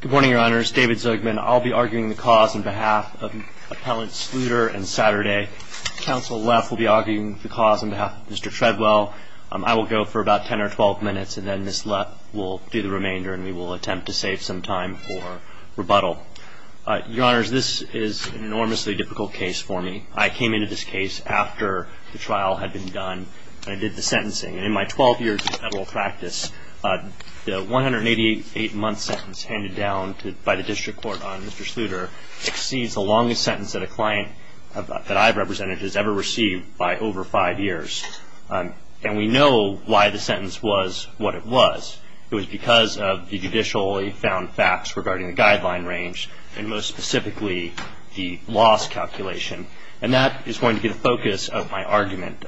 Good morning, Your Honors. David Zugman. I'll be arguing the cause on behalf of Appellant Sluder and Saturday. Counsel Leff will be arguing the cause on behalf of Mr. Treadwell. I will go for about 10 or 12 minutes, and then Ms. Leff will do the remainder, and we will attempt to save some time for rebuttal. Your Honors, this is an enormously difficult case for me. I came into this case after the trial had been done, and I did the sentencing. In my 12 years of federal practice, the 188-month sentence handed down by the District Court on Mr. Sluder exceeds the longest sentence that a client that I've represented has ever received by over five years. And we know why the sentence was what it was. It was because of the judicially found facts regarding the guideline range and, most specifically, the loss calculation. And that is going to be the focus of my argument.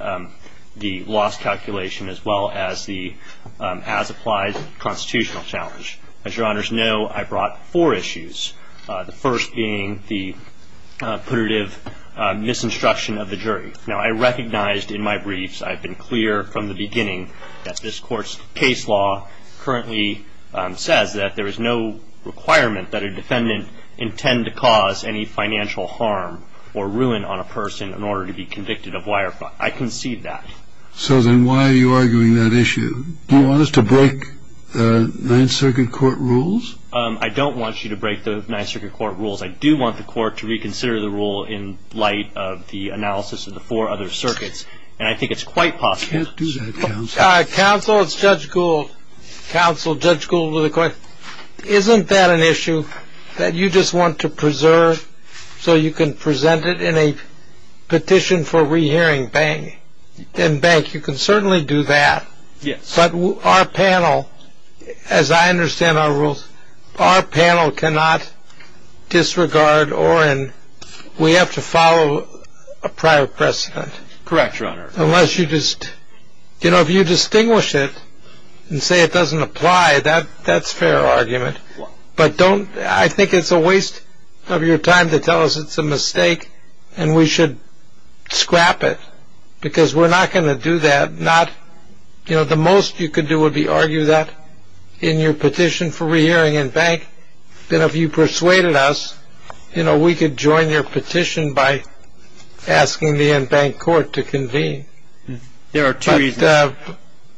The loss calculation as well as the as-applies constitutional challenge. As Your Honors know, I brought four issues. The first being the punitive misinstruction of the jury. Now, I recognized in my briefs, I've been clear from the beginning, that this Court's case law currently says that there is no requirement that a defendant intend to cause any financial harm or ruin on a person in order to be convicted of wire fraud. I concede that. So then why are you arguing that issue? Do you want us to break the Ninth Circuit Court rules? I don't want you to break the Ninth Circuit Court rules. I do want the Court to reconsider the rule in light of the analysis of the four other circuits. And I think it's quite possible. You can't do that, Counsel. Counsel, it's Judge Gould. Counsel, Judge Gould with a question. Isn't that an issue that you just want to preserve so you can present it in a petition for rehearing in bank? You can certainly do that. Yes. But our panel, as I understand our rules, our panel cannot disregard or we have to follow a prior precedent. Correct, Your Honor. You know, if you distinguish it and say it doesn't apply, that's fair argument. But I think it's a waste of your time to tell us it's a mistake and we should scrap it because we're not going to do that. The most you could do would be argue that in your petition for rehearing in bank. And if you persuaded us, you know, we could join your petition by asking the in-bank court to convene. There are two reasons.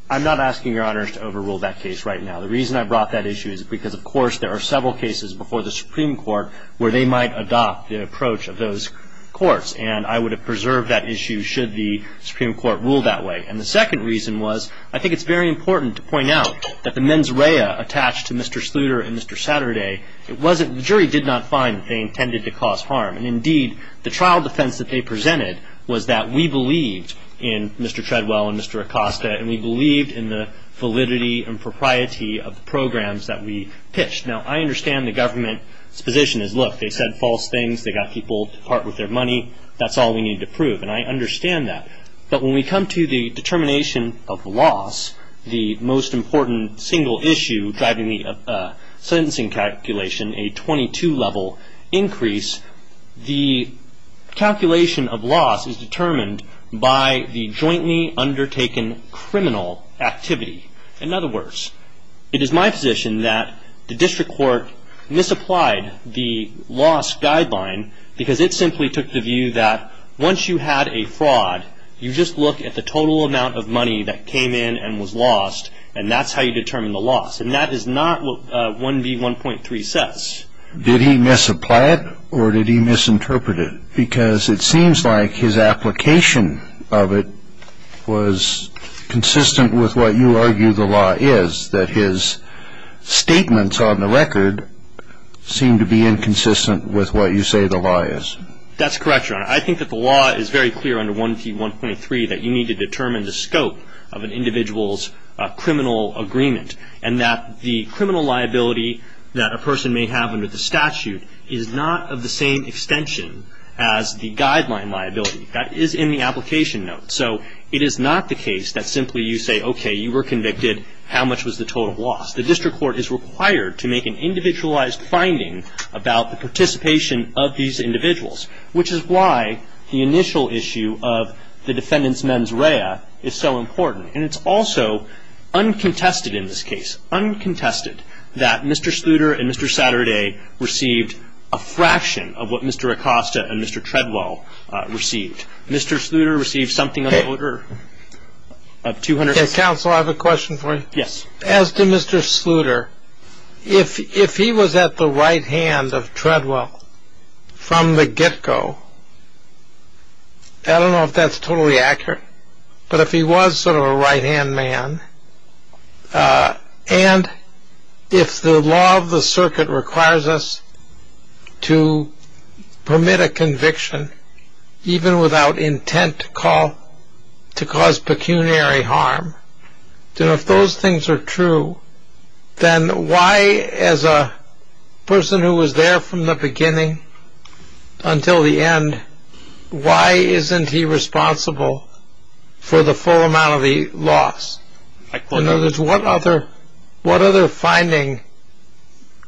I'm not asking Your Honors to overrule that case right now. The reason I brought that issue is because, of course, there are several cases before the Supreme Court where they might adopt the approach of those courts. And I would have preserved that issue should the Supreme Court rule that way. And the second reason was I think it's very important to point out that the mens rea attached to Mr. Sluder and Mr. Saturday, the jury did not find that they intended to cause harm. And, indeed, the trial defense that they presented was that we believed in Mr. Treadwell and Mr. Acosta and we believed in the validity and propriety of the programs that we pitched. Now, I understand the government's position is, look, they said false things. They got people to part with their money. That's all we need to prove. And I understand that. But when we come to the determination of loss, the most important single issue driving the sentencing calculation, a 22-level increase, the calculation of loss is determined by the jointly undertaken criminal activity. In other words, it is my position that the district court misapplied the loss guideline because it simply took the view that once you had a fraud, you just look at the total amount of money that came in and was lost, and that's how you determine the loss. And that is not what 1B1.3 says. Did he misapply it or did he misinterpret it? Because it seems like his application of it was consistent with what you argue the law is, that his statements on the record seem to be inconsistent with what you say the law is. That's correct, Your Honor. I think that the law is very clear under 1B1.3 that you need to determine the scope of an individual's criminal agreement and that the criminal liability that a person may have under the statute is not of the same extension as the guideline liability. That is in the application note. So it is not the case that simply you say, okay, you were convicted, how much was the total loss? The district court is required to make an individualized finding about the participation of these individuals, which is why the initial issue of the defendant's mens rea is so important. And it's also uncontested in this case, uncontested, that Mr. Sluder and Mr. Saturday received a fraction of what Mr. Acosta and Mr. Treadwell received. Mr. Sluder received something of the order of $200,000. Counsel, I have a question for you. Yes. As to Mr. Sluder, if he was at the right hand of Treadwell from the get-go, I don't know if that's totally accurate, but if he was sort of a right-hand man, and if the law of the circuit requires us to permit a conviction even without intent to cause pecuniary harm, then if those things are true, then why, as a person who was there from the beginning until the end, why isn't he responsible for the full amount of the loss? In other words, what other finding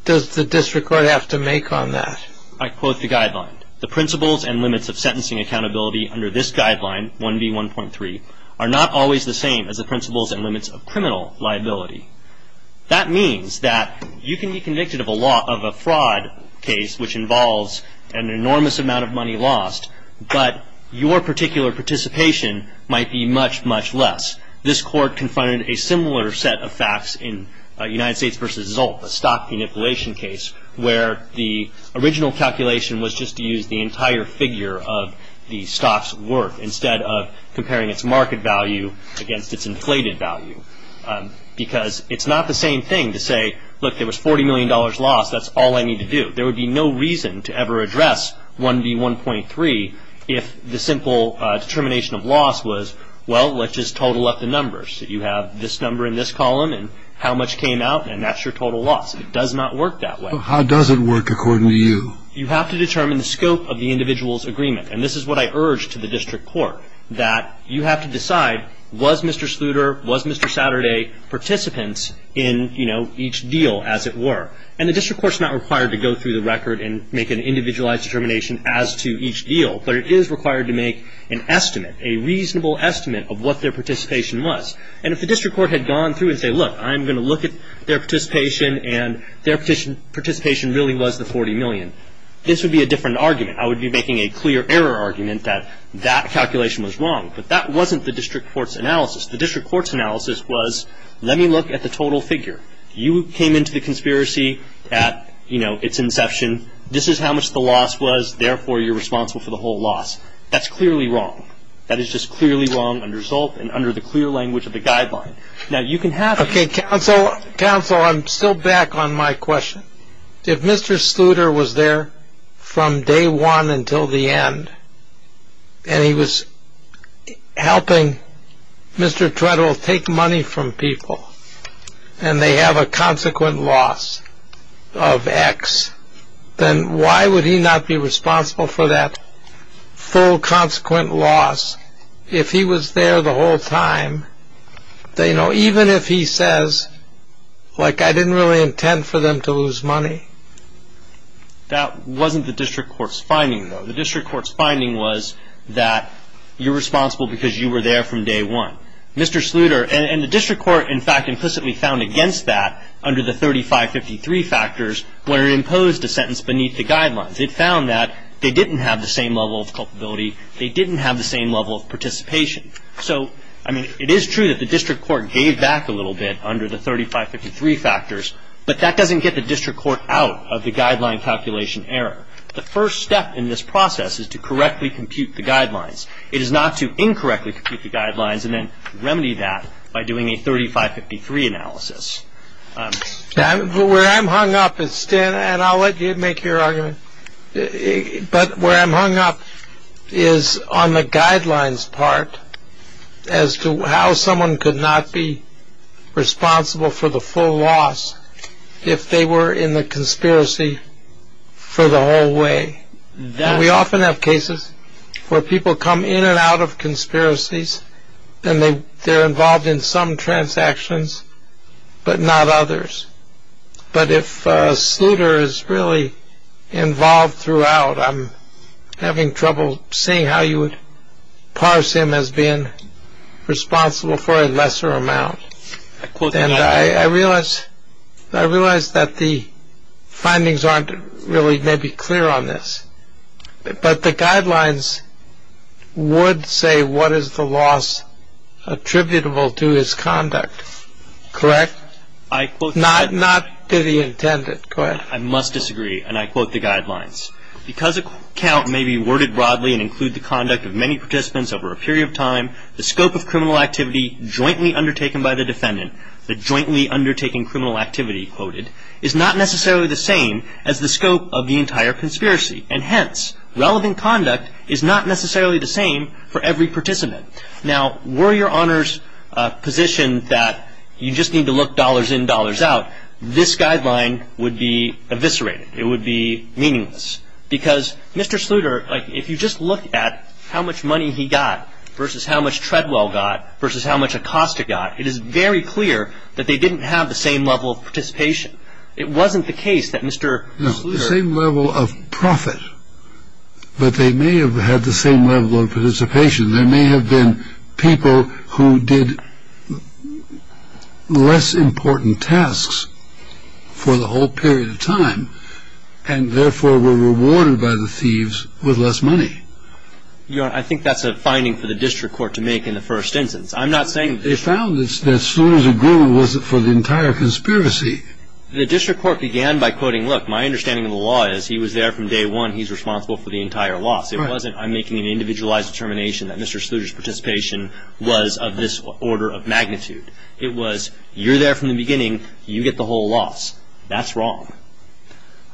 does the district court have to make on that? I quote the guideline. The principles and limits of sentencing accountability under this guideline, 1B1.3, are not always the same as the principles and limits of criminal liability. That means that you can be convicted of a fraud case which involves an enormous amount of money lost, but your particular participation might be much, much less. This court confronted a similar set of facts in United States v. Zolt, the stock manipulation case, where the original calculation was just to use the entire figure of the stock's worth instead of comparing its market value against its inflated value because it's not the same thing to say, look, there was $40 million lost, that's all I need to do. There would be no reason to ever address 1B1.3 if the simple determination of loss was, well, let's just total up the numbers. You have this number in this column and how much came out, and that's your total loss. It does not work that way. How does it work according to you? You have to determine the scope of the individual's agreement, and this is what I urge to the district court, that you have to decide was Mr. Sluder, was Mr. Saturday participants in, you know, each deal as it were. And the district court's not required to go through the record and make an individualized determination as to each deal, but it is required to make an estimate, a reasonable estimate of what their participation was. And if the district court had gone through and said, look, I'm going to look at their participation and their participation really was the $40 million, this would be a different argument. I would be making a clear error argument that that calculation was wrong. But that wasn't the district court's analysis. The district court's analysis was let me look at the total figure. You came into the conspiracy at, you know, its inception. This is how much the loss was, therefore you're responsible for the whole loss. That's clearly wrong. That is just clearly wrong under Zolt and under the clear language of the guideline. Now, you can have it. Okay, counsel, counsel, I'm still back on my question. If Mr. Sluter was there from day one until the end and he was helping Mr. Treadwell take money from people and they have a consequent loss of X, then why would he not be responsible for that full consequent loss if he was there the whole time? You know, even if he says, like, I didn't really intend for them to lose money. That wasn't the district court's finding, though. The district court's finding was that you're responsible because you were there from day one. Mr. Sluter, and the district court, in fact, implicitly found against that under the 3553 factors where it imposed a sentence beneath the guidelines. It found that they didn't have the same level of culpability. They didn't have the same level of participation. So, I mean, it is true that the district court gave back a little bit under the 3553 factors, but that doesn't get the district court out of the guideline calculation error. The first step in this process is to correctly compute the guidelines. It is not to incorrectly compute the guidelines and then remedy that by doing a 3553 analysis. Where I'm hung up is, Stan, and I'll let you make your argument, but where I'm hung up is on the guidelines part as to how someone could not be responsible for the full loss if they were in the conspiracy for the whole way. We often have cases where people come in and out of conspiracies and they're involved in some transactions but not others. But if Sluder is really involved throughout, I'm having trouble seeing how you would parse him as being responsible for a lesser amount. And I realize that the findings aren't really maybe clear on this, but the guidelines would say what is the loss attributable to his conduct, correct? Not to the intended. Go ahead. I must disagree, and I quote the guidelines. Because a count may be worded broadly and include the conduct of many participants over a period of time, the scope of criminal activity jointly undertaken by the defendant, the jointly undertaking criminal activity, quoted, is not necessarily the same as the scope of the entire conspiracy, and hence relevant conduct is not necessarily the same for every participant. Now, were your honors positioned that you just need to look dollars in, dollars out, this guideline would be eviscerated. It would be meaningless because Mr. Sluder, if you just look at how much money he got versus how much Treadwell got versus how much Acosta got, it is very clear that they didn't have the same level of participation. It wasn't the case that Mr. Sluder... No, the same level of profit, but they may have had the same level of participation. There may have been people who did less important tasks for the whole period of time and therefore were rewarded by the thieves with less money. Your Honor, I think that's a finding for the district court to make in the first instance. I'm not saying... They found that Sluder's agreement wasn't for the entire conspiracy. The district court began by quoting, look, my understanding of the law is he was there from day one. He's responsible for the entire loss. It wasn't I'm making an individualized determination that Mr. Sluder's participation was of this order of magnitude. It was you're there from the beginning. You get the whole loss. That's wrong.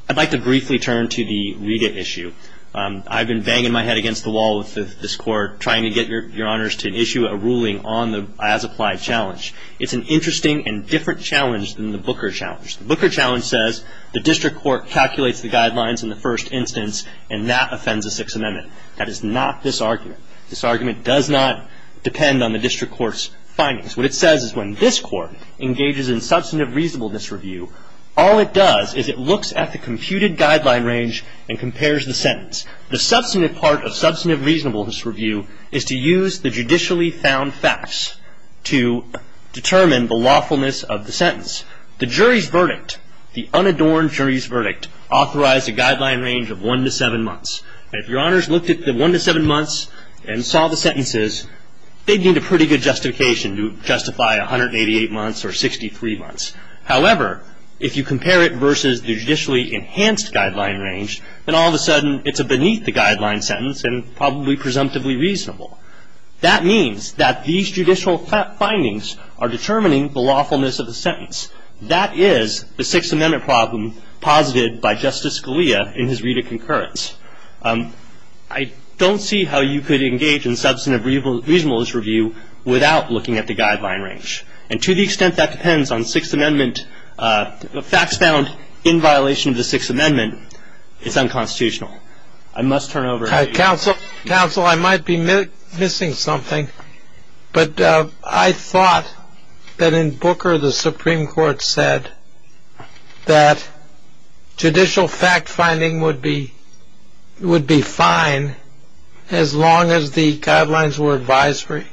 I'd like to briefly turn to the Rita issue. I've been banging my head against the wall with this court trying to get your Honors to issue a ruling on the as-applied challenge. It's an interesting and different challenge than the Booker challenge. The Booker challenge says the district court calculates the guidelines in the first instance and that offends the Sixth Amendment. That is not this argument. This argument does not depend on the district court's findings. What it says is when this court engages in substantive reasonableness review, all it does is it looks at the computed guideline range and compares the sentence. The substantive part of substantive reasonableness review is to use the judicially found facts to determine the lawfulness of the sentence. The jury's verdict, the unadorned jury's verdict, authorized a guideline range of one to seven months. If your Honors looked at the one to seven months and saw the sentences, they'd need a pretty good justification to justify 188 months or 63 months. However, if you compare it versus the judicially enhanced guideline range, then all of a sudden it's a beneath-the-guideline sentence and probably presumptively reasonable. That means that these judicial findings are determining the lawfulness of the sentence. That is the Sixth Amendment problem posited by Justice Scalia in his read of concurrence. I don't see how you could engage in substantive reasonableness review without looking at the guideline range. And to the extent that depends on Sixth Amendment facts found in violation of the Sixth Amendment, it's unconstitutional. I must turn over to you. Counsel, Counsel, I might be missing something. But I thought that in Booker the Supreme Court said that judicial fact-finding would be fine as long as the guidelines were advisory.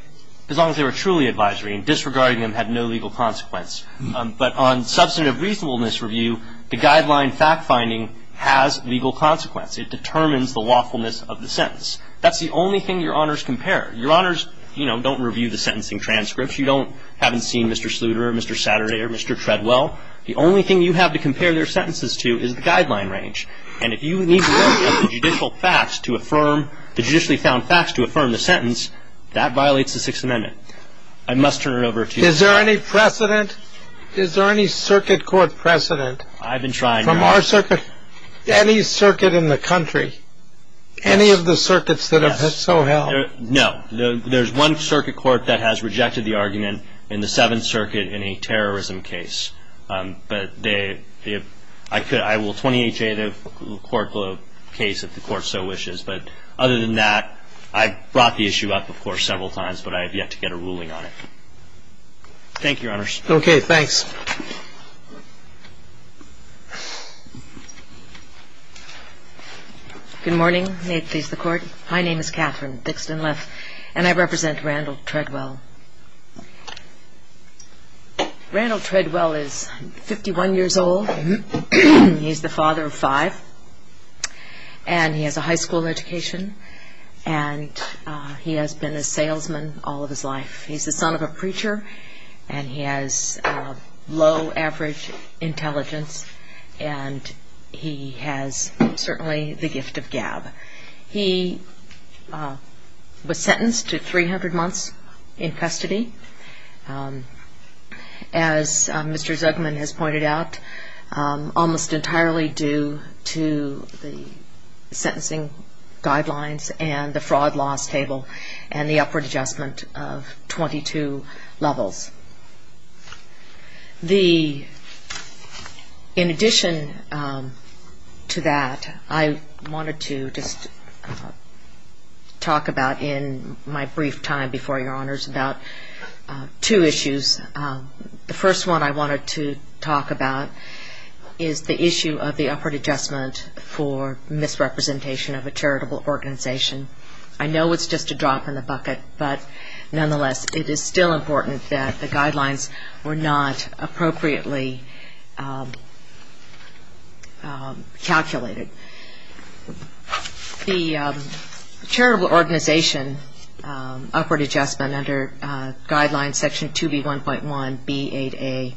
As long as they were truly advisory. And disregarding them had no legal consequence. But on substantive reasonableness review, the guideline fact-finding has legal consequence. It determines the lawfulness of the sentence. That's the only thing Your Honors compare. Your Honors, you know, don't review the sentencing transcripts. You haven't seen Mr. Sluder or Mr. Saturday or Mr. Treadwell. The only thing you have to compare their sentences to is the guideline range. And if you need to look at the judicial facts to affirm, the judicially found facts to affirm the sentence, that violates the Sixth Amendment. I must turn it over to you. Is there any precedent? Is there any circuit court precedent? I've been trying. From our circuit? Any circuit in the country. Any of the circuits that have so held. No. There's one circuit court that has rejected the argument in the Seventh Circuit in a terrorism case. But I will 28-J the court case if the court so wishes. But other than that, I brought the issue up, of course, several times, but I have yet to get a ruling on it. Thank you, Your Honors. Okay. Thanks. Good morning. May it please the court. My name is Catherine Dixon-Left, and I represent Randall Treadwell. Randall Treadwell is 51 years old. He's the father of five, and he has a high school education, and he has been a salesman all of his life. He's the son of a preacher, and he has low average intelligence, and he has certainly the gift of gab. He was sentenced to 300 months in custody, as Mr. Zuckman has pointed out, almost entirely due to the sentencing guidelines and the fraud loss table and the upward adjustment of 22 levels. In addition to that, I wanted to just talk about in my brief time before Your Honors about two issues. The first one I wanted to talk about is the issue of the upward adjustment for misrepresentation of a charitable organization. I know it's just a drop in the bucket, but nonetheless, it is still important that the guidelines were not appropriately calculated. The charitable organization upward adjustment under Guidelines Section 2B1.1B8A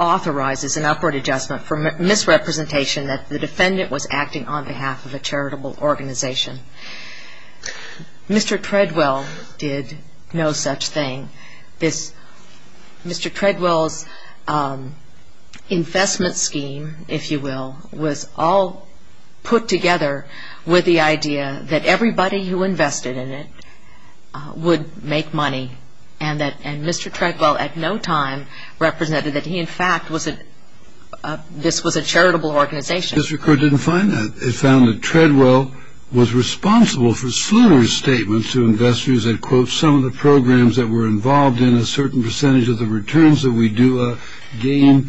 authorizes an upward adjustment for misrepresentation that the defendant was acting on behalf of a charitable organization. Mr. Treadwell did no such thing. Mr. Treadwell's investment scheme, if you will, was all put together with the idea that everybody who invested in it would make money, and Mr. Treadwell at no time represented that he, in fact, this was a charitable organization. Mr. Kerr didn't find that. He found that Treadwell was responsible for Sluder's statements to investors that, quote, some of the programs that were involved in a certain percentage of the returns that we do gain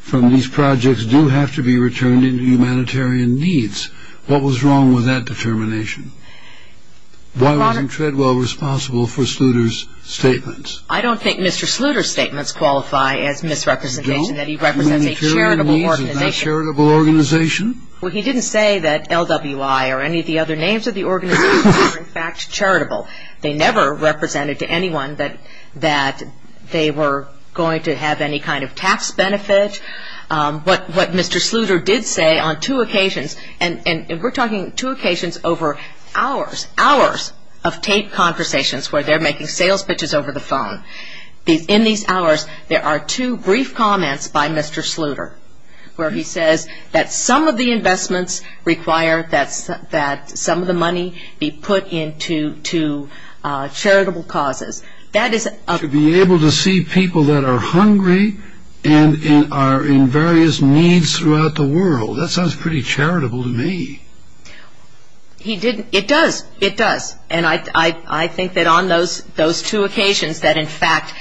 from these projects do have to be returned into humanitarian needs. What was wrong with that determination? Why wasn't Treadwell responsible for Sluder's statements? I don't think Mr. Sluder's statements qualify as misrepresentation, that he represents a charitable organization. A charitable organization? Well, he didn't say that LWI or any of the other names of the organization were, in fact, charitable. They never represented to anyone that they were going to have any kind of tax benefit. What Mr. Sluder did say on two occasions, and we're talking two occasions over hours, hours of taped conversations where they're making sales pitches over the phone. In these hours, there are two brief comments by Mr. Sluder, where he says that some of the investments require that some of the money be put into charitable causes. To be able to see people that are hungry and are in various needs throughout the world, that sounds pretty charitable to me. It does, it does. And I think that on those two occasions that, in fact,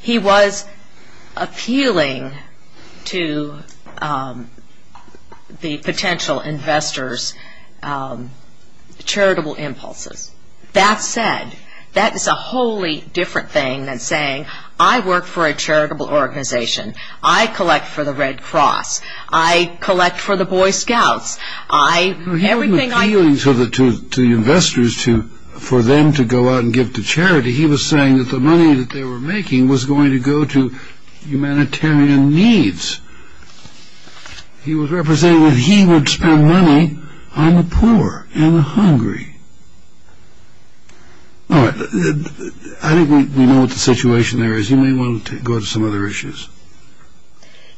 he was appealing to the potential investors' charitable impulses. That said, that is a wholly different thing than saying, I work for a charitable organization. I collect for the Red Cross. I collect for the Boy Scouts. He wasn't appealing to the investors for them to go out and give to charity. He was saying that the money that they were making was going to go to humanitarian needs. He was representing that he would spend money on the poor and the hungry. All right. I think we know what the situation there is. You may want to go to some other issues.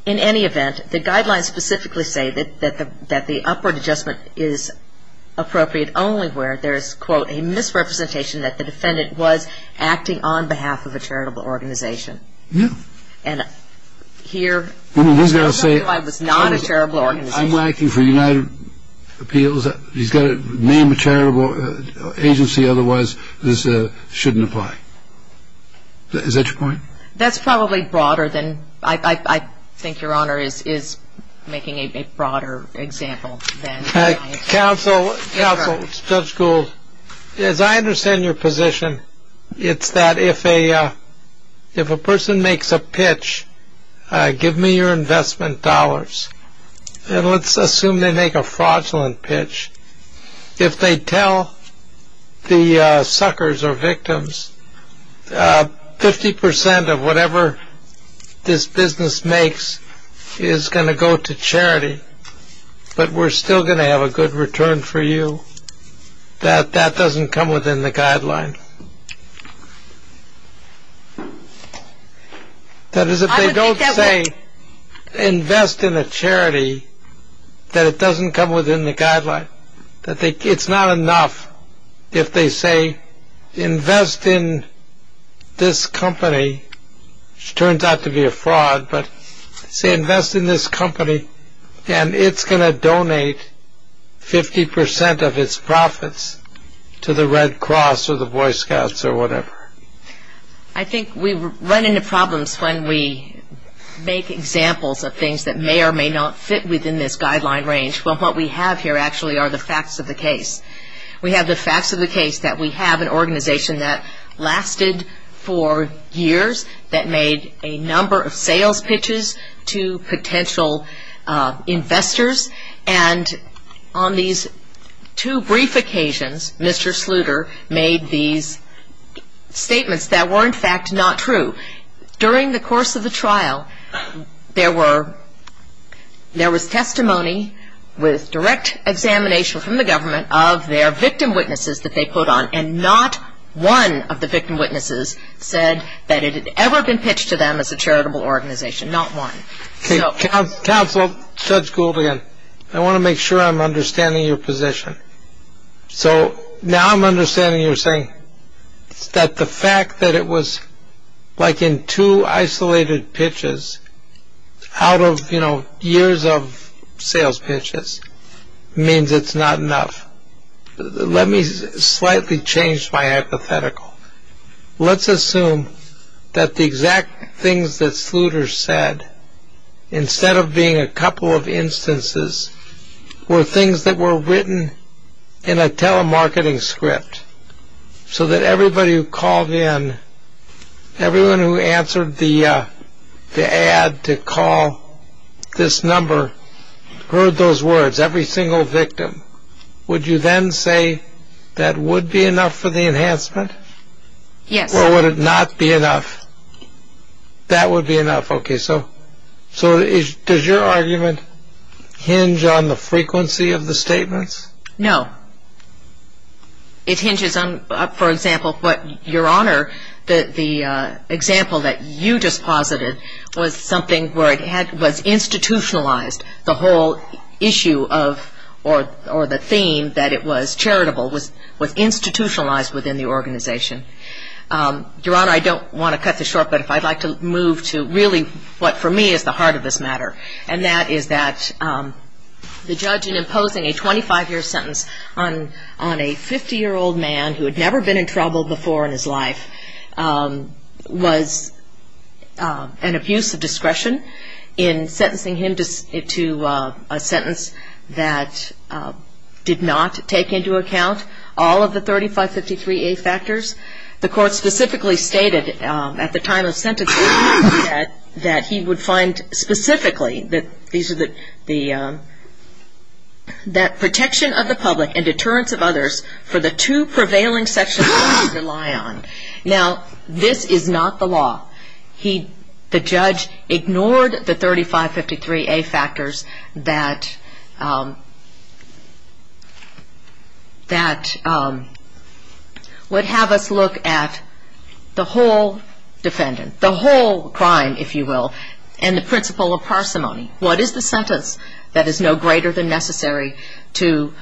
In any event, the guidelines specifically say that the upward adjustment is appropriate only where there is, quote, a misrepresentation that the defendant was acting on behalf of a charitable organization. Yeah. And here, he was not a charitable organization. I'm acting for United Appeals. He's got to name a charitable agency, otherwise this shouldn't apply. Is that your point? That's probably broader than – I think Your Honor is making a broader example than I am. Counsel, Judge Gould, as I understand your position, it's that if a person makes a pitch, give me your investment dollars, and let's assume they make a fraudulent pitch. If they tell the suckers or victims, 50% of whatever this business makes is going to go to charity, but we're still going to have a good return for you, that that doesn't come within the guideline. That is, if they don't say invest in a charity, that it doesn't come within the guideline. It's not enough if they say invest in this company, which turns out to be a fraud, but say invest in this company and it's going to donate 50% of its profits to the Red Cross or the Boy Scouts or whatever. I think we run into problems when we make examples of things that may or may not fit within this guideline range. Well, what we have here actually are the facts of the case. We have the facts of the case that we have an organization that lasted for years, that made a number of sales pitches to potential investors, and on these two brief occasions, Mr. Sluder made these statements that were, in fact, not true. During the course of the trial, there was testimony with direct examination from the government of their victim witnesses that they put on, and not one of the victim witnesses said that it had ever been pitched to them as a charitable organization, not one. Counsel, Judge Gould again, I want to make sure I'm understanding your position. So now I'm understanding you're saying that the fact that it was like in two isolated pitches out of years of sales pitches means it's not enough. Let me slightly change my hypothetical. Let's assume that the exact things that Sluder said, instead of being a couple of instances, were things that were written in a telemarketing script so that everybody who called in, everyone who answered the ad to call this number, heard those words, every single victim. Would you then say that would be enough for the enhancement? Yes. Or would it not be enough? That would be enough. Okay. So does your argument hinge on the frequency of the statements? No. It hinges on, for example, what Your Honor, the example that you just posited, was something where it was institutionalized, the whole issue of, or the theme that it was charitable was institutionalized within the organization. Your Honor, I don't want to cut this short, but if I'd like to move to really what for me is the heart of this matter, and that is that the judge in imposing a 25-year sentence on a 50-year-old man who had never been in trouble before in his life was an abuse of discretion in sentencing him to a sentence that did not take into account all of the 3553A factors. The court specifically stated at the time of sentencing that he would find specifically that these are the, that protection of the public and deterrence of others for the two prevailing sections that he would rely on. Now, this is not the law. The judge ignored the 3553A factors that would have us look at the whole defendant, the whole crime, if you will, and the principle of parsimony. What is the sentence that is no greater than necessary to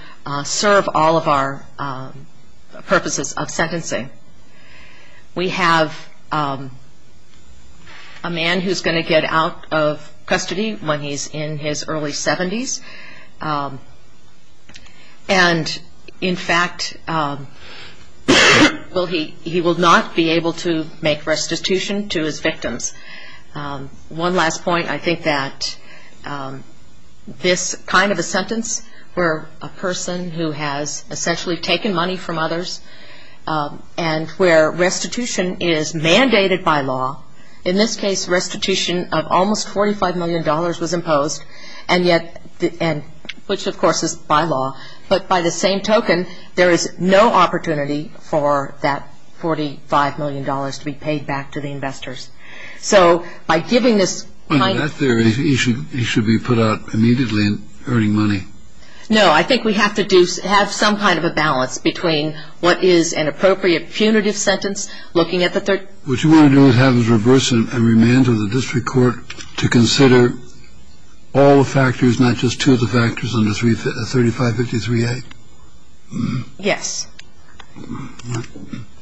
serve all of our purposes of sentencing? We have a man who's going to get out of custody when he's in his early 70s, and in fact he will not be able to make restitution to his victims. One last point. I think that this kind of a sentence where a person who has essentially taken money from others and where restitution is mandated by law, in this case restitution of almost $45 million was imposed, and yet, which of course is by law, but by the same token, there is no opportunity for that $45 million to be paid back to the investors. So by giving this kind of... Under that theory, he should be put out immediately and earning money. No. I think we have to have some kind of a balance between what is an appropriate punitive sentence looking at the... What you want to do is reverse and remand to the district court to consider all the factors, not just two of the factors under 3553A. Yes.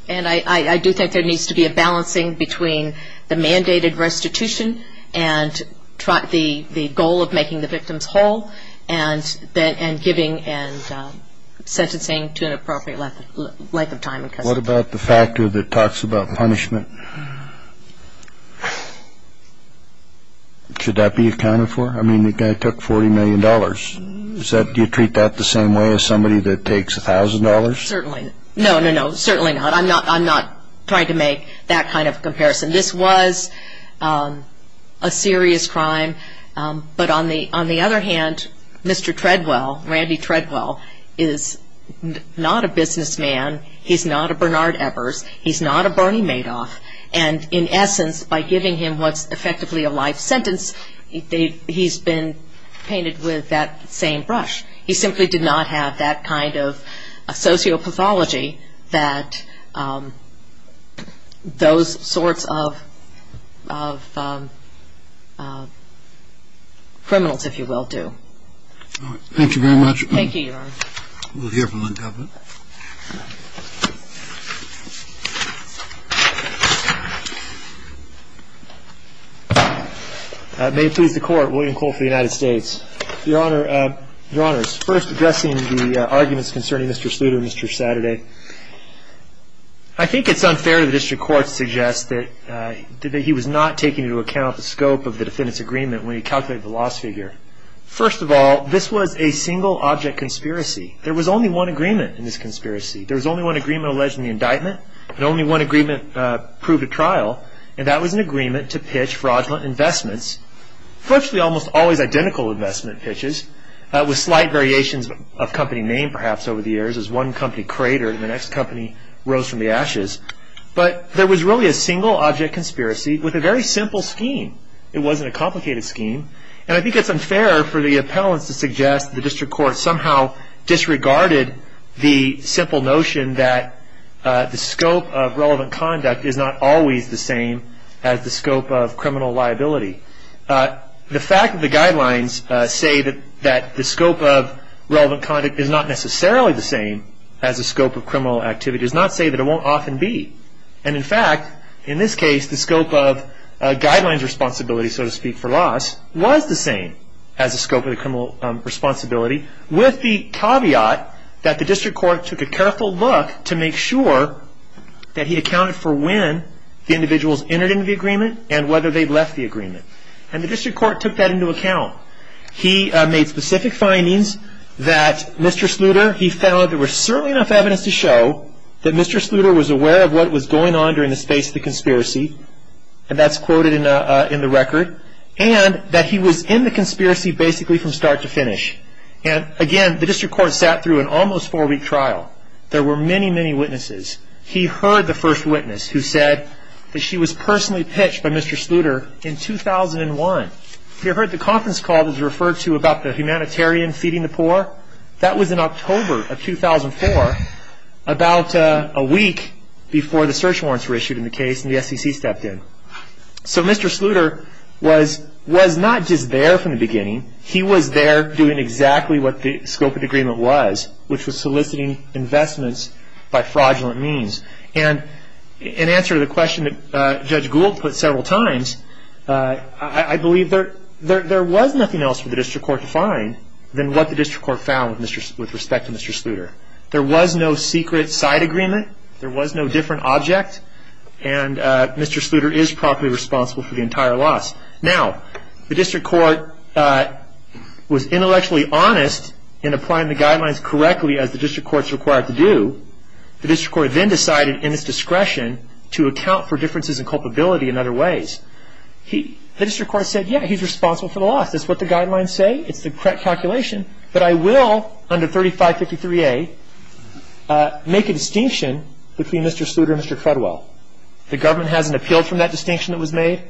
And I do think there needs to be a balancing between the mandated restitution and the goal of making the victims whole and giving and sentencing to an appropriate length of time in custody. What about the factor that talks about punishment? Should that be accounted for? I mean, the guy took $40 million. Do you treat that the same way as somebody that takes $1,000? Certainly. No, no, no, certainly not. I'm not trying to make that kind of comparison. This was a serious crime. But on the other hand, Mr. Treadwell, Randy Treadwell, is not a businessman. He's not a Bernard Evers. He's not a Bernie Madoff. And in essence, by giving him what's effectively a life sentence, he's been painted with that same brush. He simply did not have that kind of sociopathology that those sorts of criminals, if you will, do. All right. Thank you very much. Thank you, Your Honor. We'll hear from the government. May it please the Court, William Cole for the United States. Your Honors, first addressing the arguments concerning Mr. Sluder and Mr. Saturday, I think it's unfair to the district court to suggest that he was not taking into account the scope of the defendant's agreement when he calculated the loss figure. First of all, this was a single object conspiracy. There was only one agreement in this conspiracy. There was only one agreement alleged in the indictment, and only one agreement proved at trial, and that was an agreement to pitch fraudulent investments, virtually almost always identical investment pitches, with slight variations of company name, perhaps, over the years, as one company cratered and the next company rose from the ashes. But there was really a single object conspiracy with a very simple scheme. It wasn't a complicated scheme. And I think it's unfair for the appellants to suggest the district court somehow disregarded the simple notion that the scope of relevant conduct is not always the same as the scope of criminal liability. The fact that the guidelines say that the scope of relevant conduct is not necessarily the same as the scope of criminal activity does not say that it won't often be. And in fact, in this case, the scope of guidelines responsibility, so to speak, for loss, was the same as the scope of the criminal responsibility, with the caveat that the district court took a careful look to make sure that he accounted for when the individuals entered into the agreement and whether they'd left the agreement. And the district court took that into account. He made specific findings that Mr. Sluder, he felt there was certainly enough evidence to show that Mr. Sluder was aware of what was going on during the space of the conspiracy. And that's quoted in the record. And that he was in the conspiracy basically from start to finish. And again, the district court sat through an almost four-week trial. There were many, many witnesses. He heard the first witness who said that she was personally pitched by Mr. Sluder in 2001. He heard the conference call that was referred to about the humanitarian feeding the poor. That was in October of 2004, about a week before the search warrants were issued in the case and the SEC stepped in. So Mr. Sluder was not just there from the beginning. He was there doing exactly what the scope of the agreement was, which was soliciting investments by fraudulent means. And in answer to the question that Judge Gould put several times, I believe there was nothing else for the district court to find than what the district court found with respect to Mr. Sluder. There was no secret side agreement. There was no different object. And Mr. Sluder is properly responsible for the entire loss. Now, the district court was intellectually honest in applying the guidelines correctly, as the district court is required to do. The district court then decided in its discretion to account for differences in culpability in other ways. The district court said, yeah, he's responsible for the loss. That's what the guidelines say. It's the correct calculation. But I will, under 3553A, make a distinction between Mr. Sluder and Mr. Crudwell. The government hasn't appealed from that distinction that was made.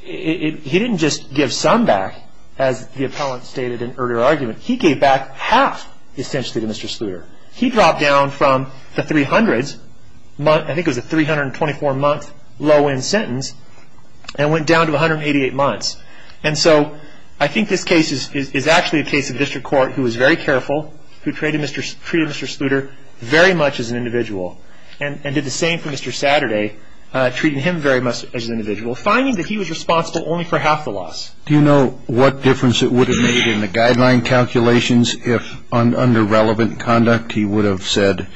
He didn't just give some back, as the appellant stated in earlier argument. He gave back half, essentially, to Mr. Sluder. He dropped down from the 300s, I think it was a 324-month low-end sentence, and went down to 188 months. And so I think this case is actually a case of district court who was very careful, who treated Mr. Sluder very much as an individual, and did the same for Mr. Saturday, treating him very much as an individual, finding that he was responsible only for half the loss. Do you know what difference it would have made in the guideline calculations if, under relevant conduct, he would have said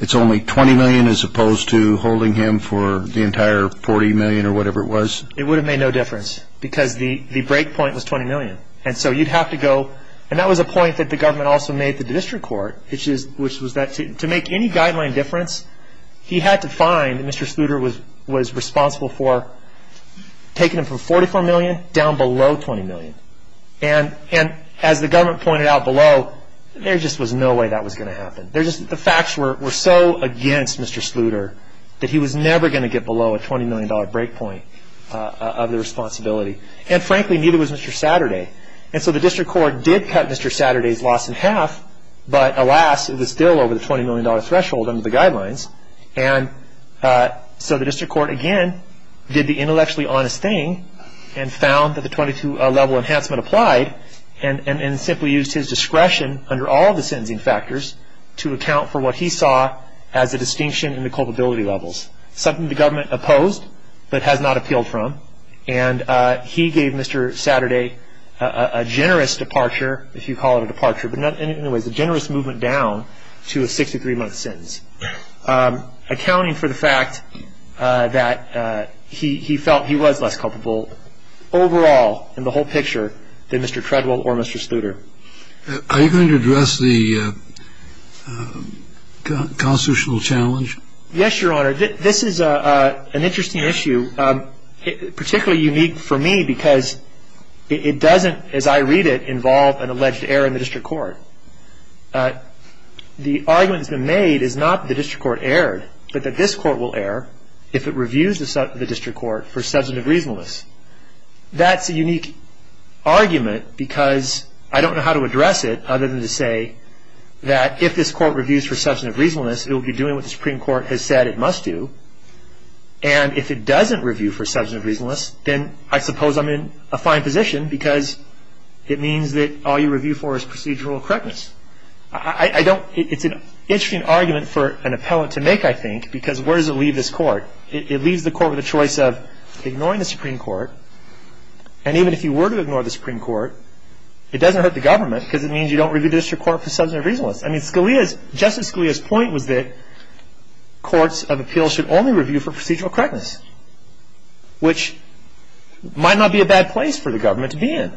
it's only $20 million as opposed to holding him for the entire $40 million or whatever it was? It would have made no difference because the break point was $20 million. And so you'd have to go, and that was a point that the government also made to the district court, which was that to make any guideline difference, he had to find Mr. Sluder was responsible for taking him from $44 million down below $20 million. And as the government pointed out below, there just was no way that was going to happen. The facts were so against Mr. Sluder that he was never going to get below a $20 million break point of the responsibility. And frankly, neither was Mr. Saturday. And so the district court did cut Mr. Saturday's loss in half, but alas, it was still over the $20 million threshold under the guidelines. And so the district court again did the intellectually honest thing and found that the 22-level enhancement applied and simply used his discretion under all of the sentencing factors to account for what he saw as a distinction in the culpability levels, something the government opposed but has not appealed from. And he gave Mr. Saturday a generous departure, if you call it a departure, but anyway, a generous movement down to a 63-month sentence, accounting for the fact that he felt he was less culpable overall in the whole picture than Mr. Treadwell or Mr. Sluder. Are you going to address the constitutional challenge? Yes, Your Honor. This is an interesting issue, particularly unique for me because it doesn't, as I read it, involve an alleged error in the district court. The argument that's been made is not that the district court erred, but that this court will err if it reviews the district court for substantive reasonableness. That's a unique argument because I don't know how to address it other than to say that if this court reviews for substantive reasonableness, it will be doing what the Supreme Court has said it must do. And if it doesn't review for substantive reasonableness, then I suppose I'm in a fine position because it means that all you review for is procedural correctness. It's an interesting argument for an appellant to make, I think, because where does it leave this court? It leaves the court with a choice of ignoring the Supreme Court, and even if you were to ignore the Supreme Court, it doesn't hurt the government because it means you don't review the district court for substantive reasonableness. Justice Scalia's point was that courts of appeals should only review for procedural correctness, which might not be a bad place for the government to be in.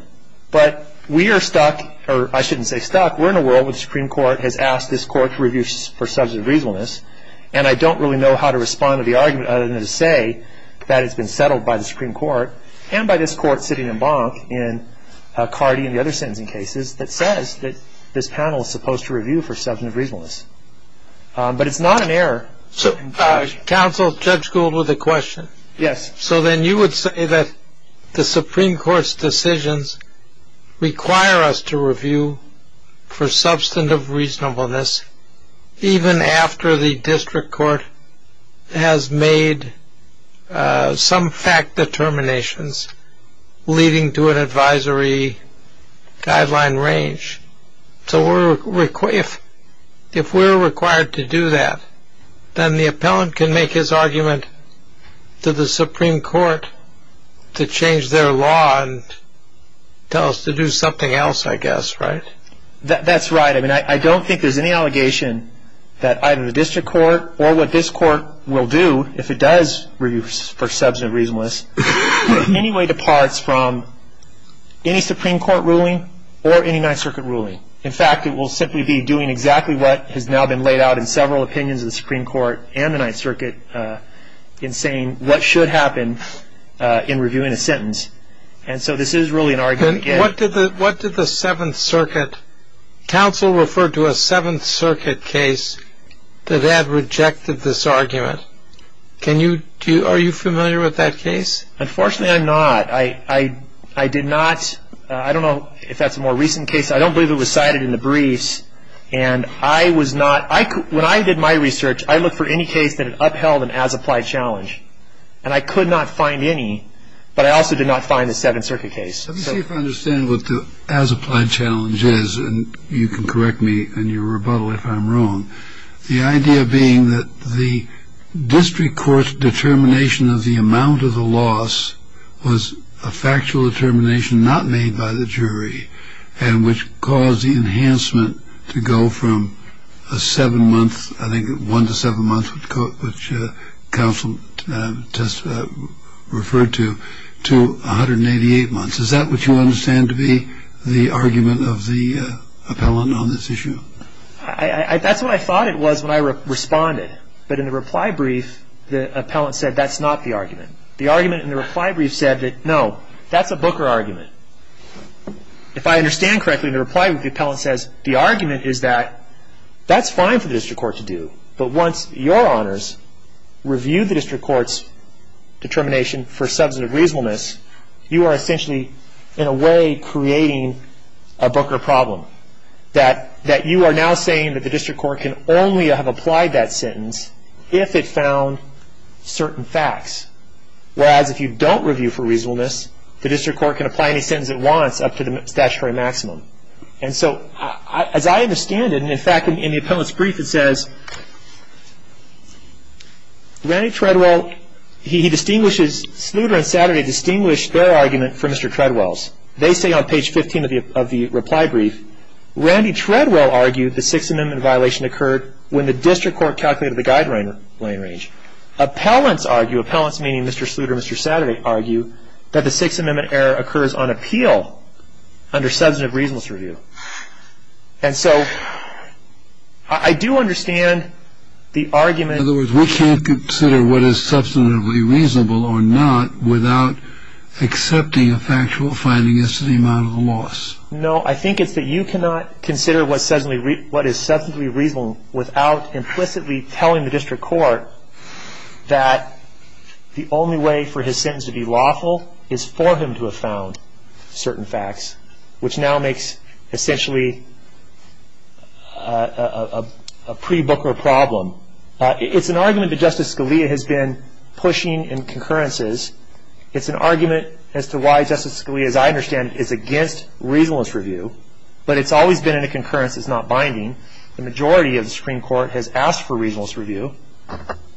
But we are stuck, or I shouldn't say stuck. We're in a world where the Supreme Court has asked this court to review for substantive reasonableness, and I don't really know how to respond to the argument other than to say that it's been settled by the Supreme Court and by this court sitting in bonk in Cardi and the other sentencing cases that says that this panel is supposed to review for substantive reasonableness. But it's not an error. Counsel, Judge Gould with a question. Yes. So then you would say that the Supreme Court's decisions require us to review for substantive reasonableness even after the district court has made some fact determinations leading to an advisory guideline range. So if we're required to do that, then the appellant can make his argument to the Supreme Court to change their law and tell us to do something else, I guess, right? That's right. I mean, I don't think there's any allegation that either the district court or what this court will do, if it does review for substantive reasonableness, in any way departs from any Supreme Court ruling or any Ninth Circuit ruling. In fact, it will simply be doing exactly what has now been laid out in several opinions of the Supreme Court and the Ninth Circuit in saying what should happen in reviewing a sentence. And so this is really an argument. What did the Seventh Circuit counsel refer to a Seventh Circuit case that had rejected this argument? Are you familiar with that case? Unfortunately, I'm not. I did not. I don't know if that's a more recent case. I don't believe it was cited in the briefs. And when I did my research, I looked for any case that upheld an as-applied challenge. And I could not find any. But I also did not find the Seventh Circuit case. Let me see if I understand what the as-applied challenge is. And you can correct me in your rebuttal if I'm wrong. The idea being that the district court's determination of the amount of the loss was a factual determination not made by the jury and which caused the enhancement to go from a seven-month, I think one to seven months, which counsel referred to, to 188 months. Is that what you understand to be the argument of the appellant on this issue? That's what I thought it was when I responded. But in the reply brief, the appellant said that's not the argument. The argument in the reply brief said that, no, that's a Booker argument. If I understand correctly, in the reply brief, the appellant says the argument is that that's fine for the district court to do. But once your honors review the district court's determination for substantive reasonableness, you are essentially, in a way, creating a Booker problem that you are now saying that the district court can only have applied that sentence if it found certain facts. Whereas if you don't review for reasonableness, the district court can apply any sentence it wants up to the statutory maximum. And so, as I understand it, and, in fact, in the appellant's brief it says, Randy Treadwell, he distinguishes, Sluder and Saturday distinguished their argument for Mr. Treadwell's. They say on page 15 of the reply brief, Randy Treadwell argued the Sixth Amendment violation occurred when the district court calculated the guideline range. Appellants argue, appellants meaning Mr. Sluder and Mr. Saturday, argue that the Sixth Amendment error occurs on appeal under substantive reasonableness review. And so I do understand the argument. In other words, we can't consider what is substantively reasonable or not without accepting a factual finding as to the amount of the loss. No, I think it's that you cannot consider what is substantively reasonable without implicitly telling the district court that the only way for his sentence to be lawful is for him to have found certain facts, which now makes, essentially, a pre-Booker problem. It's an argument that Justice Scalia has been pushing in concurrences. It's an argument as to why Justice Scalia, as I understand it, is against reasonableness review, but it's always been in a concurrence. It's not binding. The majority of the Supreme Court has asked for reasonableness review,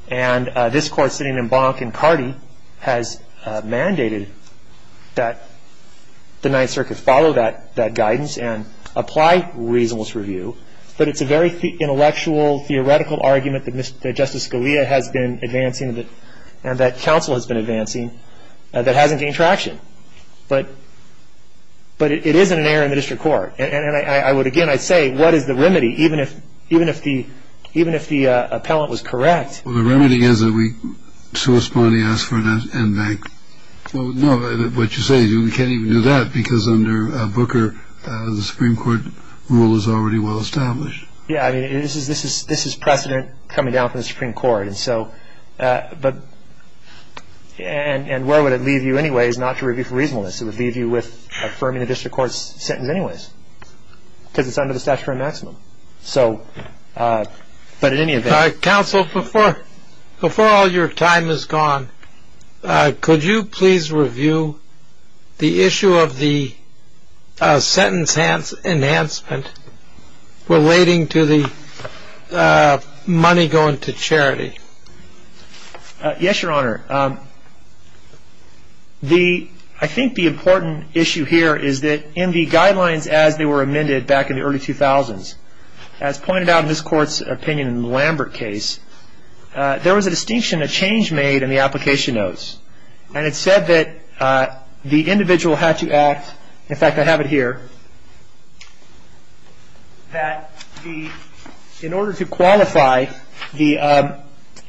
and this Court, sitting in Bonk and Cardee, has mandated that the Ninth Circuit follow that guidance and apply reasonableness review, but it's a very intellectual, theoretical argument that Justice Scalia has been advancing and that counsel has been advancing that hasn't gained traction. But it is an error in the district court. And I would, again, I'd say, what is the remedy, even if the appellant was correct? Well, the remedy is that we suspending ask for an end bank. No, what you say, we can't even do that because under Booker, the Supreme Court rule is already well established. Yeah, I mean, this is precedent coming down from the Supreme Court. And so, but, and where would it leave you anyways not to review for reasonableness? It would leave you with affirming the district court's sentence anyways because it's under the statutory maximum. So, but in any event. Counsel, before all your time is gone, could you please review the issue of the sentence enhancement relating to the money going to charity? Yes, Your Honor. I think the important issue here is that in the guidelines as they were amended back in the early 2000s, as pointed out in this court's opinion in the Lambert case, there was a distinction, a change made in the application notes. And it said that the individual had to act, in fact, I have it here, that in order to qualify, the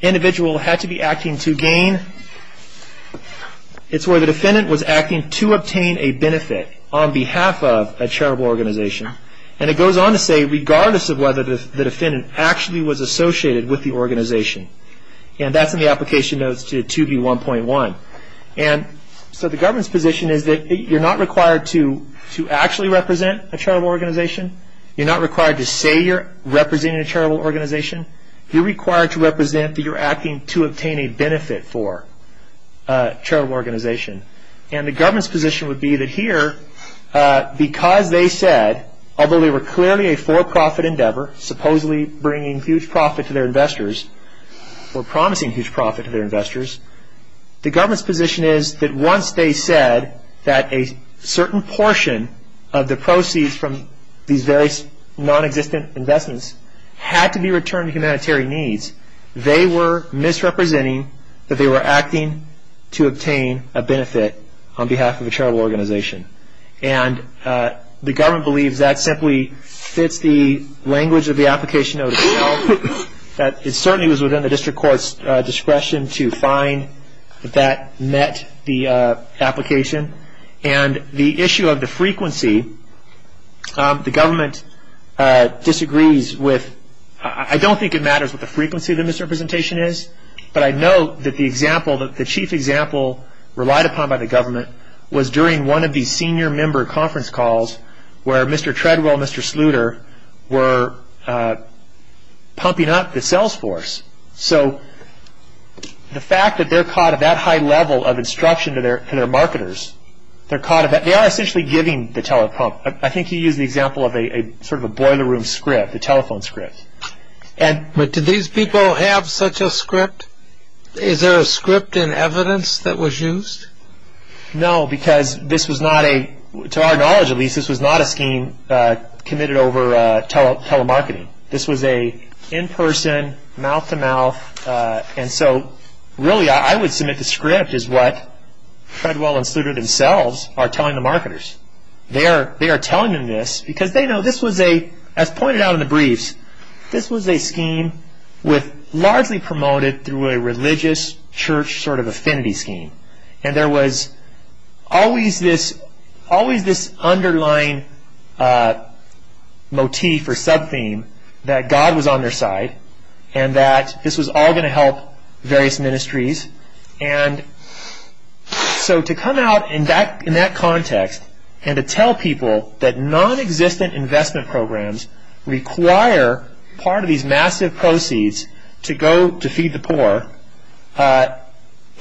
individual had to be acting to gain. It's where the defendant was acting to obtain a benefit on behalf of a charitable organization. And it goes on to say, regardless of whether the defendant actually was associated with the organization. And that's in the application notes to 2B1.1. And so the government's position is that you're not required to actually represent a charitable organization. You're not required to say you're representing a charitable organization. You're required to represent that you're acting to obtain a benefit for a charitable organization. And the government's position would be that here, because they said, although they were clearly a for-profit endeavor, supposedly bringing huge profit to their investors, or promising huge profit to their investors, the government's position is that once they said that a certain portion of the proceeds from these various nonexistent investments had to be returned to humanitarian needs, they were misrepresenting that they were acting to obtain a benefit on behalf of a charitable organization. And the government believes that simply fits the language of the application notes well. It certainly was within the district court's discretion to find that met the application. And the issue of the frequency, the government disagrees with, I don't think it matters what the frequency of the misrepresentation is, but I know that the example, the chief example relied upon by the government was during one of these senior member conference calls where Mr. Treadwell and Mr. Sluder were pumping up the sales force. So the fact that they're caught at that high level of instruction to their marketers, they are essentially giving the telepump. I think he used the example of sort of a boiler room script, a telephone script. But do these people have such a script? Is there a script in evidence that was used? No, because this was not a, to our knowledge at least, this was not a scheme committed over telemarketing. This was an in-person, mouth-to-mouth, and so really I would submit the script is what Treadwell and Sluder themselves are telling the marketers. They are telling them this because they know this was a, as pointed out in the briefs, this was a scheme largely promoted through a religious church sort of affinity scheme. And there was always this underlying motif or sub-theme that God was on their side and that this was all going to help various ministries. And so to come out in that context and to tell people that non-existent investment programs require part of these massive proceeds to go to feed the poor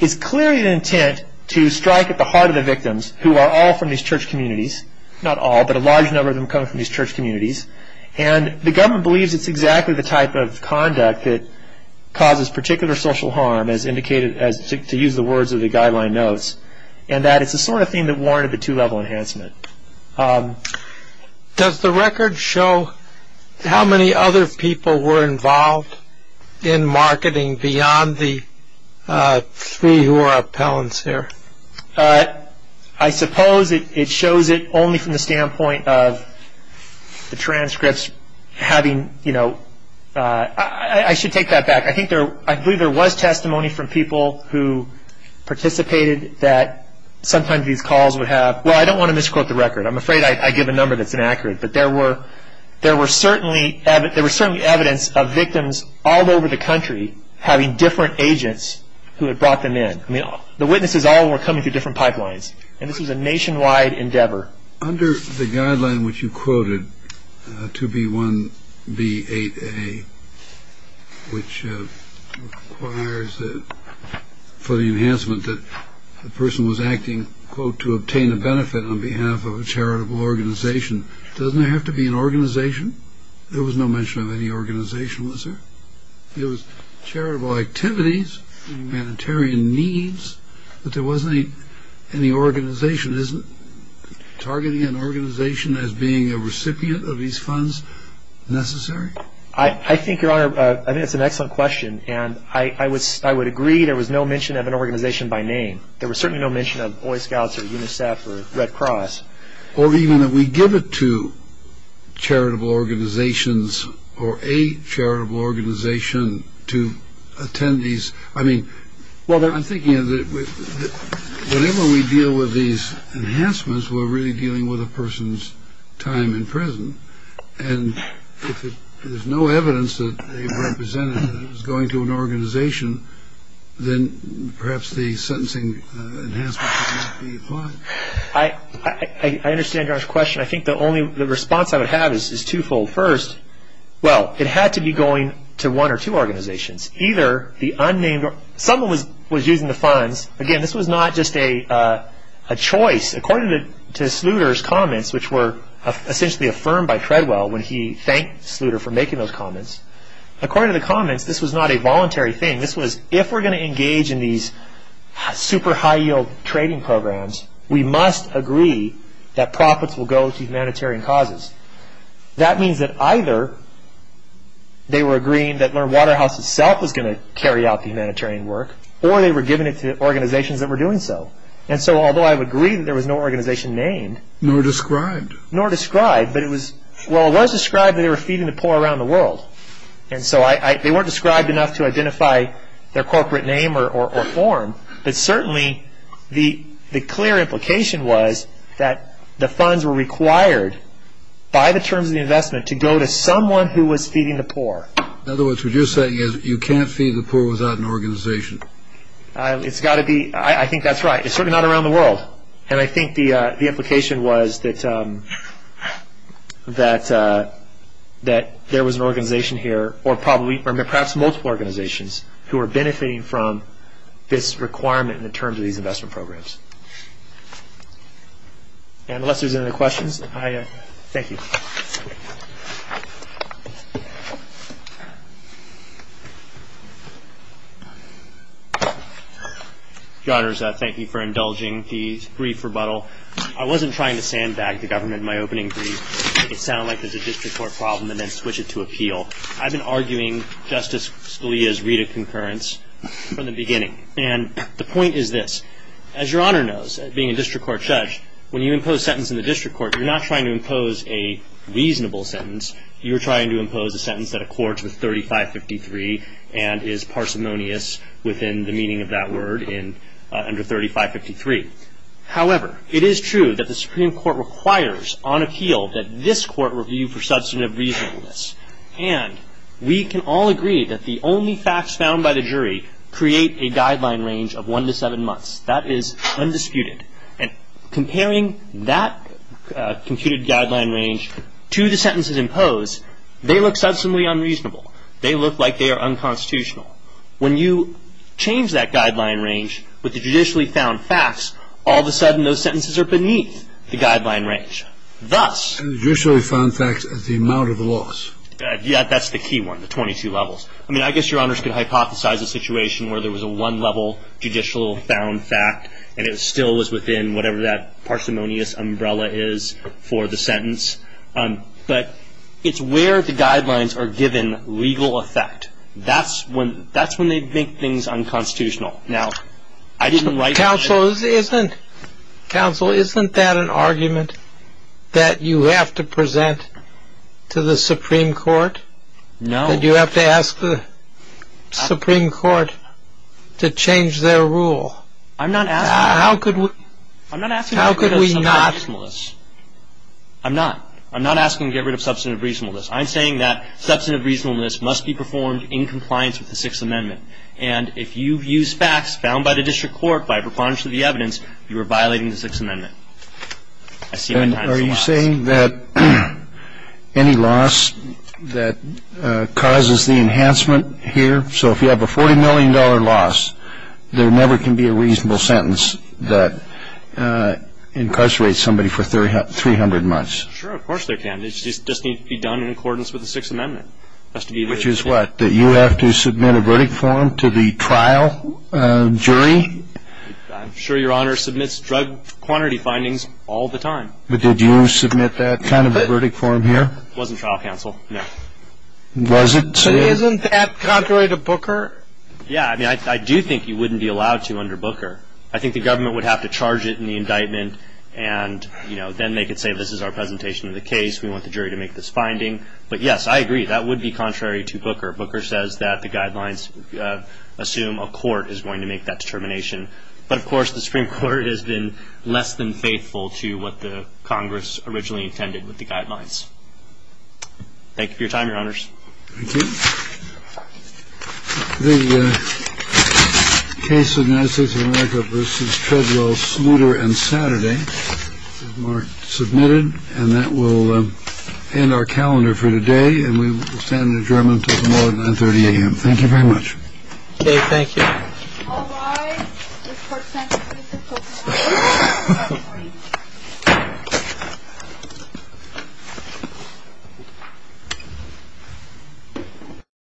is clearly an intent to strike at the heart of the victims who are all from these church communities. Not all, but a large number of them come from these church communities. And the government believes it's exactly the type of conduct that causes particular social harm as indicated, to use the words of the guideline notes, and that it's the sort of thing that warranted the two-level enhancement. Does the record show how many other people were involved in marketing beyond the three who are appellants here? I suppose it shows it only from the standpoint of the transcripts having, you know, I should take that back. I believe there was testimony from people who participated that sometimes these calls would have, well, I don't want to misquote the record. I'm afraid I give a number that's inaccurate. But there were certainly evidence of victims all over the country having different agents who had brought them in. I mean, the witnesses all were coming through different pipelines. And this was a nationwide endeavor. Under the guideline which you quoted, 2B1B8A, which requires for the enhancement that the person was acting, quote, to obtain a benefit on behalf of a charitable organization. Doesn't it have to be an organization? There was no mention of any organization, was there? It was charitable activities, humanitarian needs, but there wasn't any organization. Isn't targeting an organization as being a recipient of these funds necessary? I think, Your Honor, I think that's an excellent question. And I would agree there was no mention of an organization by name. There was certainly no mention of Boy Scouts or UNICEF or Red Cross. Or even that we give it to charitable organizations or a charitable organization to attend these. I mean, I'm thinking that whenever we deal with these enhancements, we're really dealing with a person's time in prison. And if there's no evidence that they represented that it was going to an organization, then perhaps the sentencing enhancement cannot be applied. I understand Your Honor's question. I think the only response I would have is twofold. First, well, it had to be going to one or two organizations. Someone was using the funds. Again, this was not just a choice. According to Sluder's comments, which were essentially affirmed by Treadwell when he thanked Sluder for making those comments, according to the comments, this was not a voluntary thing. This was, if we're going to engage in these super high-yield trading programs, we must agree that profits will go to humanitarian causes. That means that either they were agreeing that Learned Waterhouse itself was going to carry out the humanitarian work, or they were giving it to organizations that were doing so. And so although I would agree that there was no organization named. Nor described. Nor described. But it was, well, it was described that they were feeding the poor around the world. And so they weren't described enough to identify their corporate name or form. But certainly the clear implication was that the funds were required by the terms of the investment to go to someone who was feeding the poor. In other words, what you're saying is you can't feed the poor without an organization. It's got to be. I think that's right. It's certainly not around the world. And I think the implication was that there was an organization here, or perhaps multiple organizations, who were benefiting from this requirement in the terms of these investment programs. And unless there's any other questions, I thank you. Your Honors, thank you for indulging the brief rebuttal. I wasn't trying to sandbag the government in my opening brief. It sounded like it was a district court problem and then switch it to appeal. I've been arguing Justice Scalia's read of concurrence from the beginning. And the point is this. As Your Honor knows, being a district court judge, when you impose a sentence in the district court, you're not trying to impose a reasonable sentence. You're trying to impose a sentence that accords with 3553 and is parsimonious within the meaning of that word under 3553. However, it is true that the Supreme Court requires on appeal that this court review for substantive reasonableness. And we can all agree that the only facts found by the jury create a guideline range of one to seven months. That is undisputed. And comparing that computed guideline range to the sentences imposed, they look substantively unreasonable. They look like they are unconstitutional. When you change that guideline range with the judicially found facts, all of a sudden those sentences are beneath the guideline range. And the judicially found facts are the amount of loss. Yeah, that's the key one, the 22 levels. I mean, I guess Your Honors could hypothesize a situation where there was a one-level judicial found fact and it still was within whatever that parsimonious umbrella is for the sentence. But it's where the guidelines are given legal effect. That's when they make things unconstitutional. Counsel, isn't that an argument that you have to present to the Supreme Court? No. That you have to ask the Supreme Court to change their rule? I'm not asking to get rid of substantive reasonableness. I'm not. I'm not asking to get rid of substantive reasonableness. I'm saying that substantive reasonableness must be performed in compliance with the Sixth Amendment. And if you've used facts found by the district court by preponderance of the evidence, you are violating the Sixth Amendment. Are you saying that any loss that causes the enhancement here, so if you have a $40 million loss, there never can be a reasonable sentence that incarcerates somebody for 300 months? Sure, of course there can. It just needs to be done in accordance with the Sixth Amendment. Which is what? That you have to submit a verdict form to the trial jury? I'm sure Your Honor submits drug quantity findings all the time. But did you submit that kind of a verdict form here? It wasn't trial counsel. No. Was it? So isn't that contrary to Booker? Yeah. I mean, I do think you wouldn't be allowed to under Booker. I think the government would have to charge it in the indictment, and then they could say this is our presentation of the case. We want the jury to make this finding. But, yes, I agree. That would be contrary to Booker. Booker says that the guidelines assume a court is going to make that determination. But, of course, the Supreme Court has been less than faithful to what the Congress originally intended with the guidelines. Thank you for your time, Your Honors. Thank you. The case of the United States of America v. Treadwell, Smooter and Saturday is marked submitted. And that will end our calendar for today. And we stand adjourned until tomorrow at 930 a.m. Thank you very much. Okay. Thank you.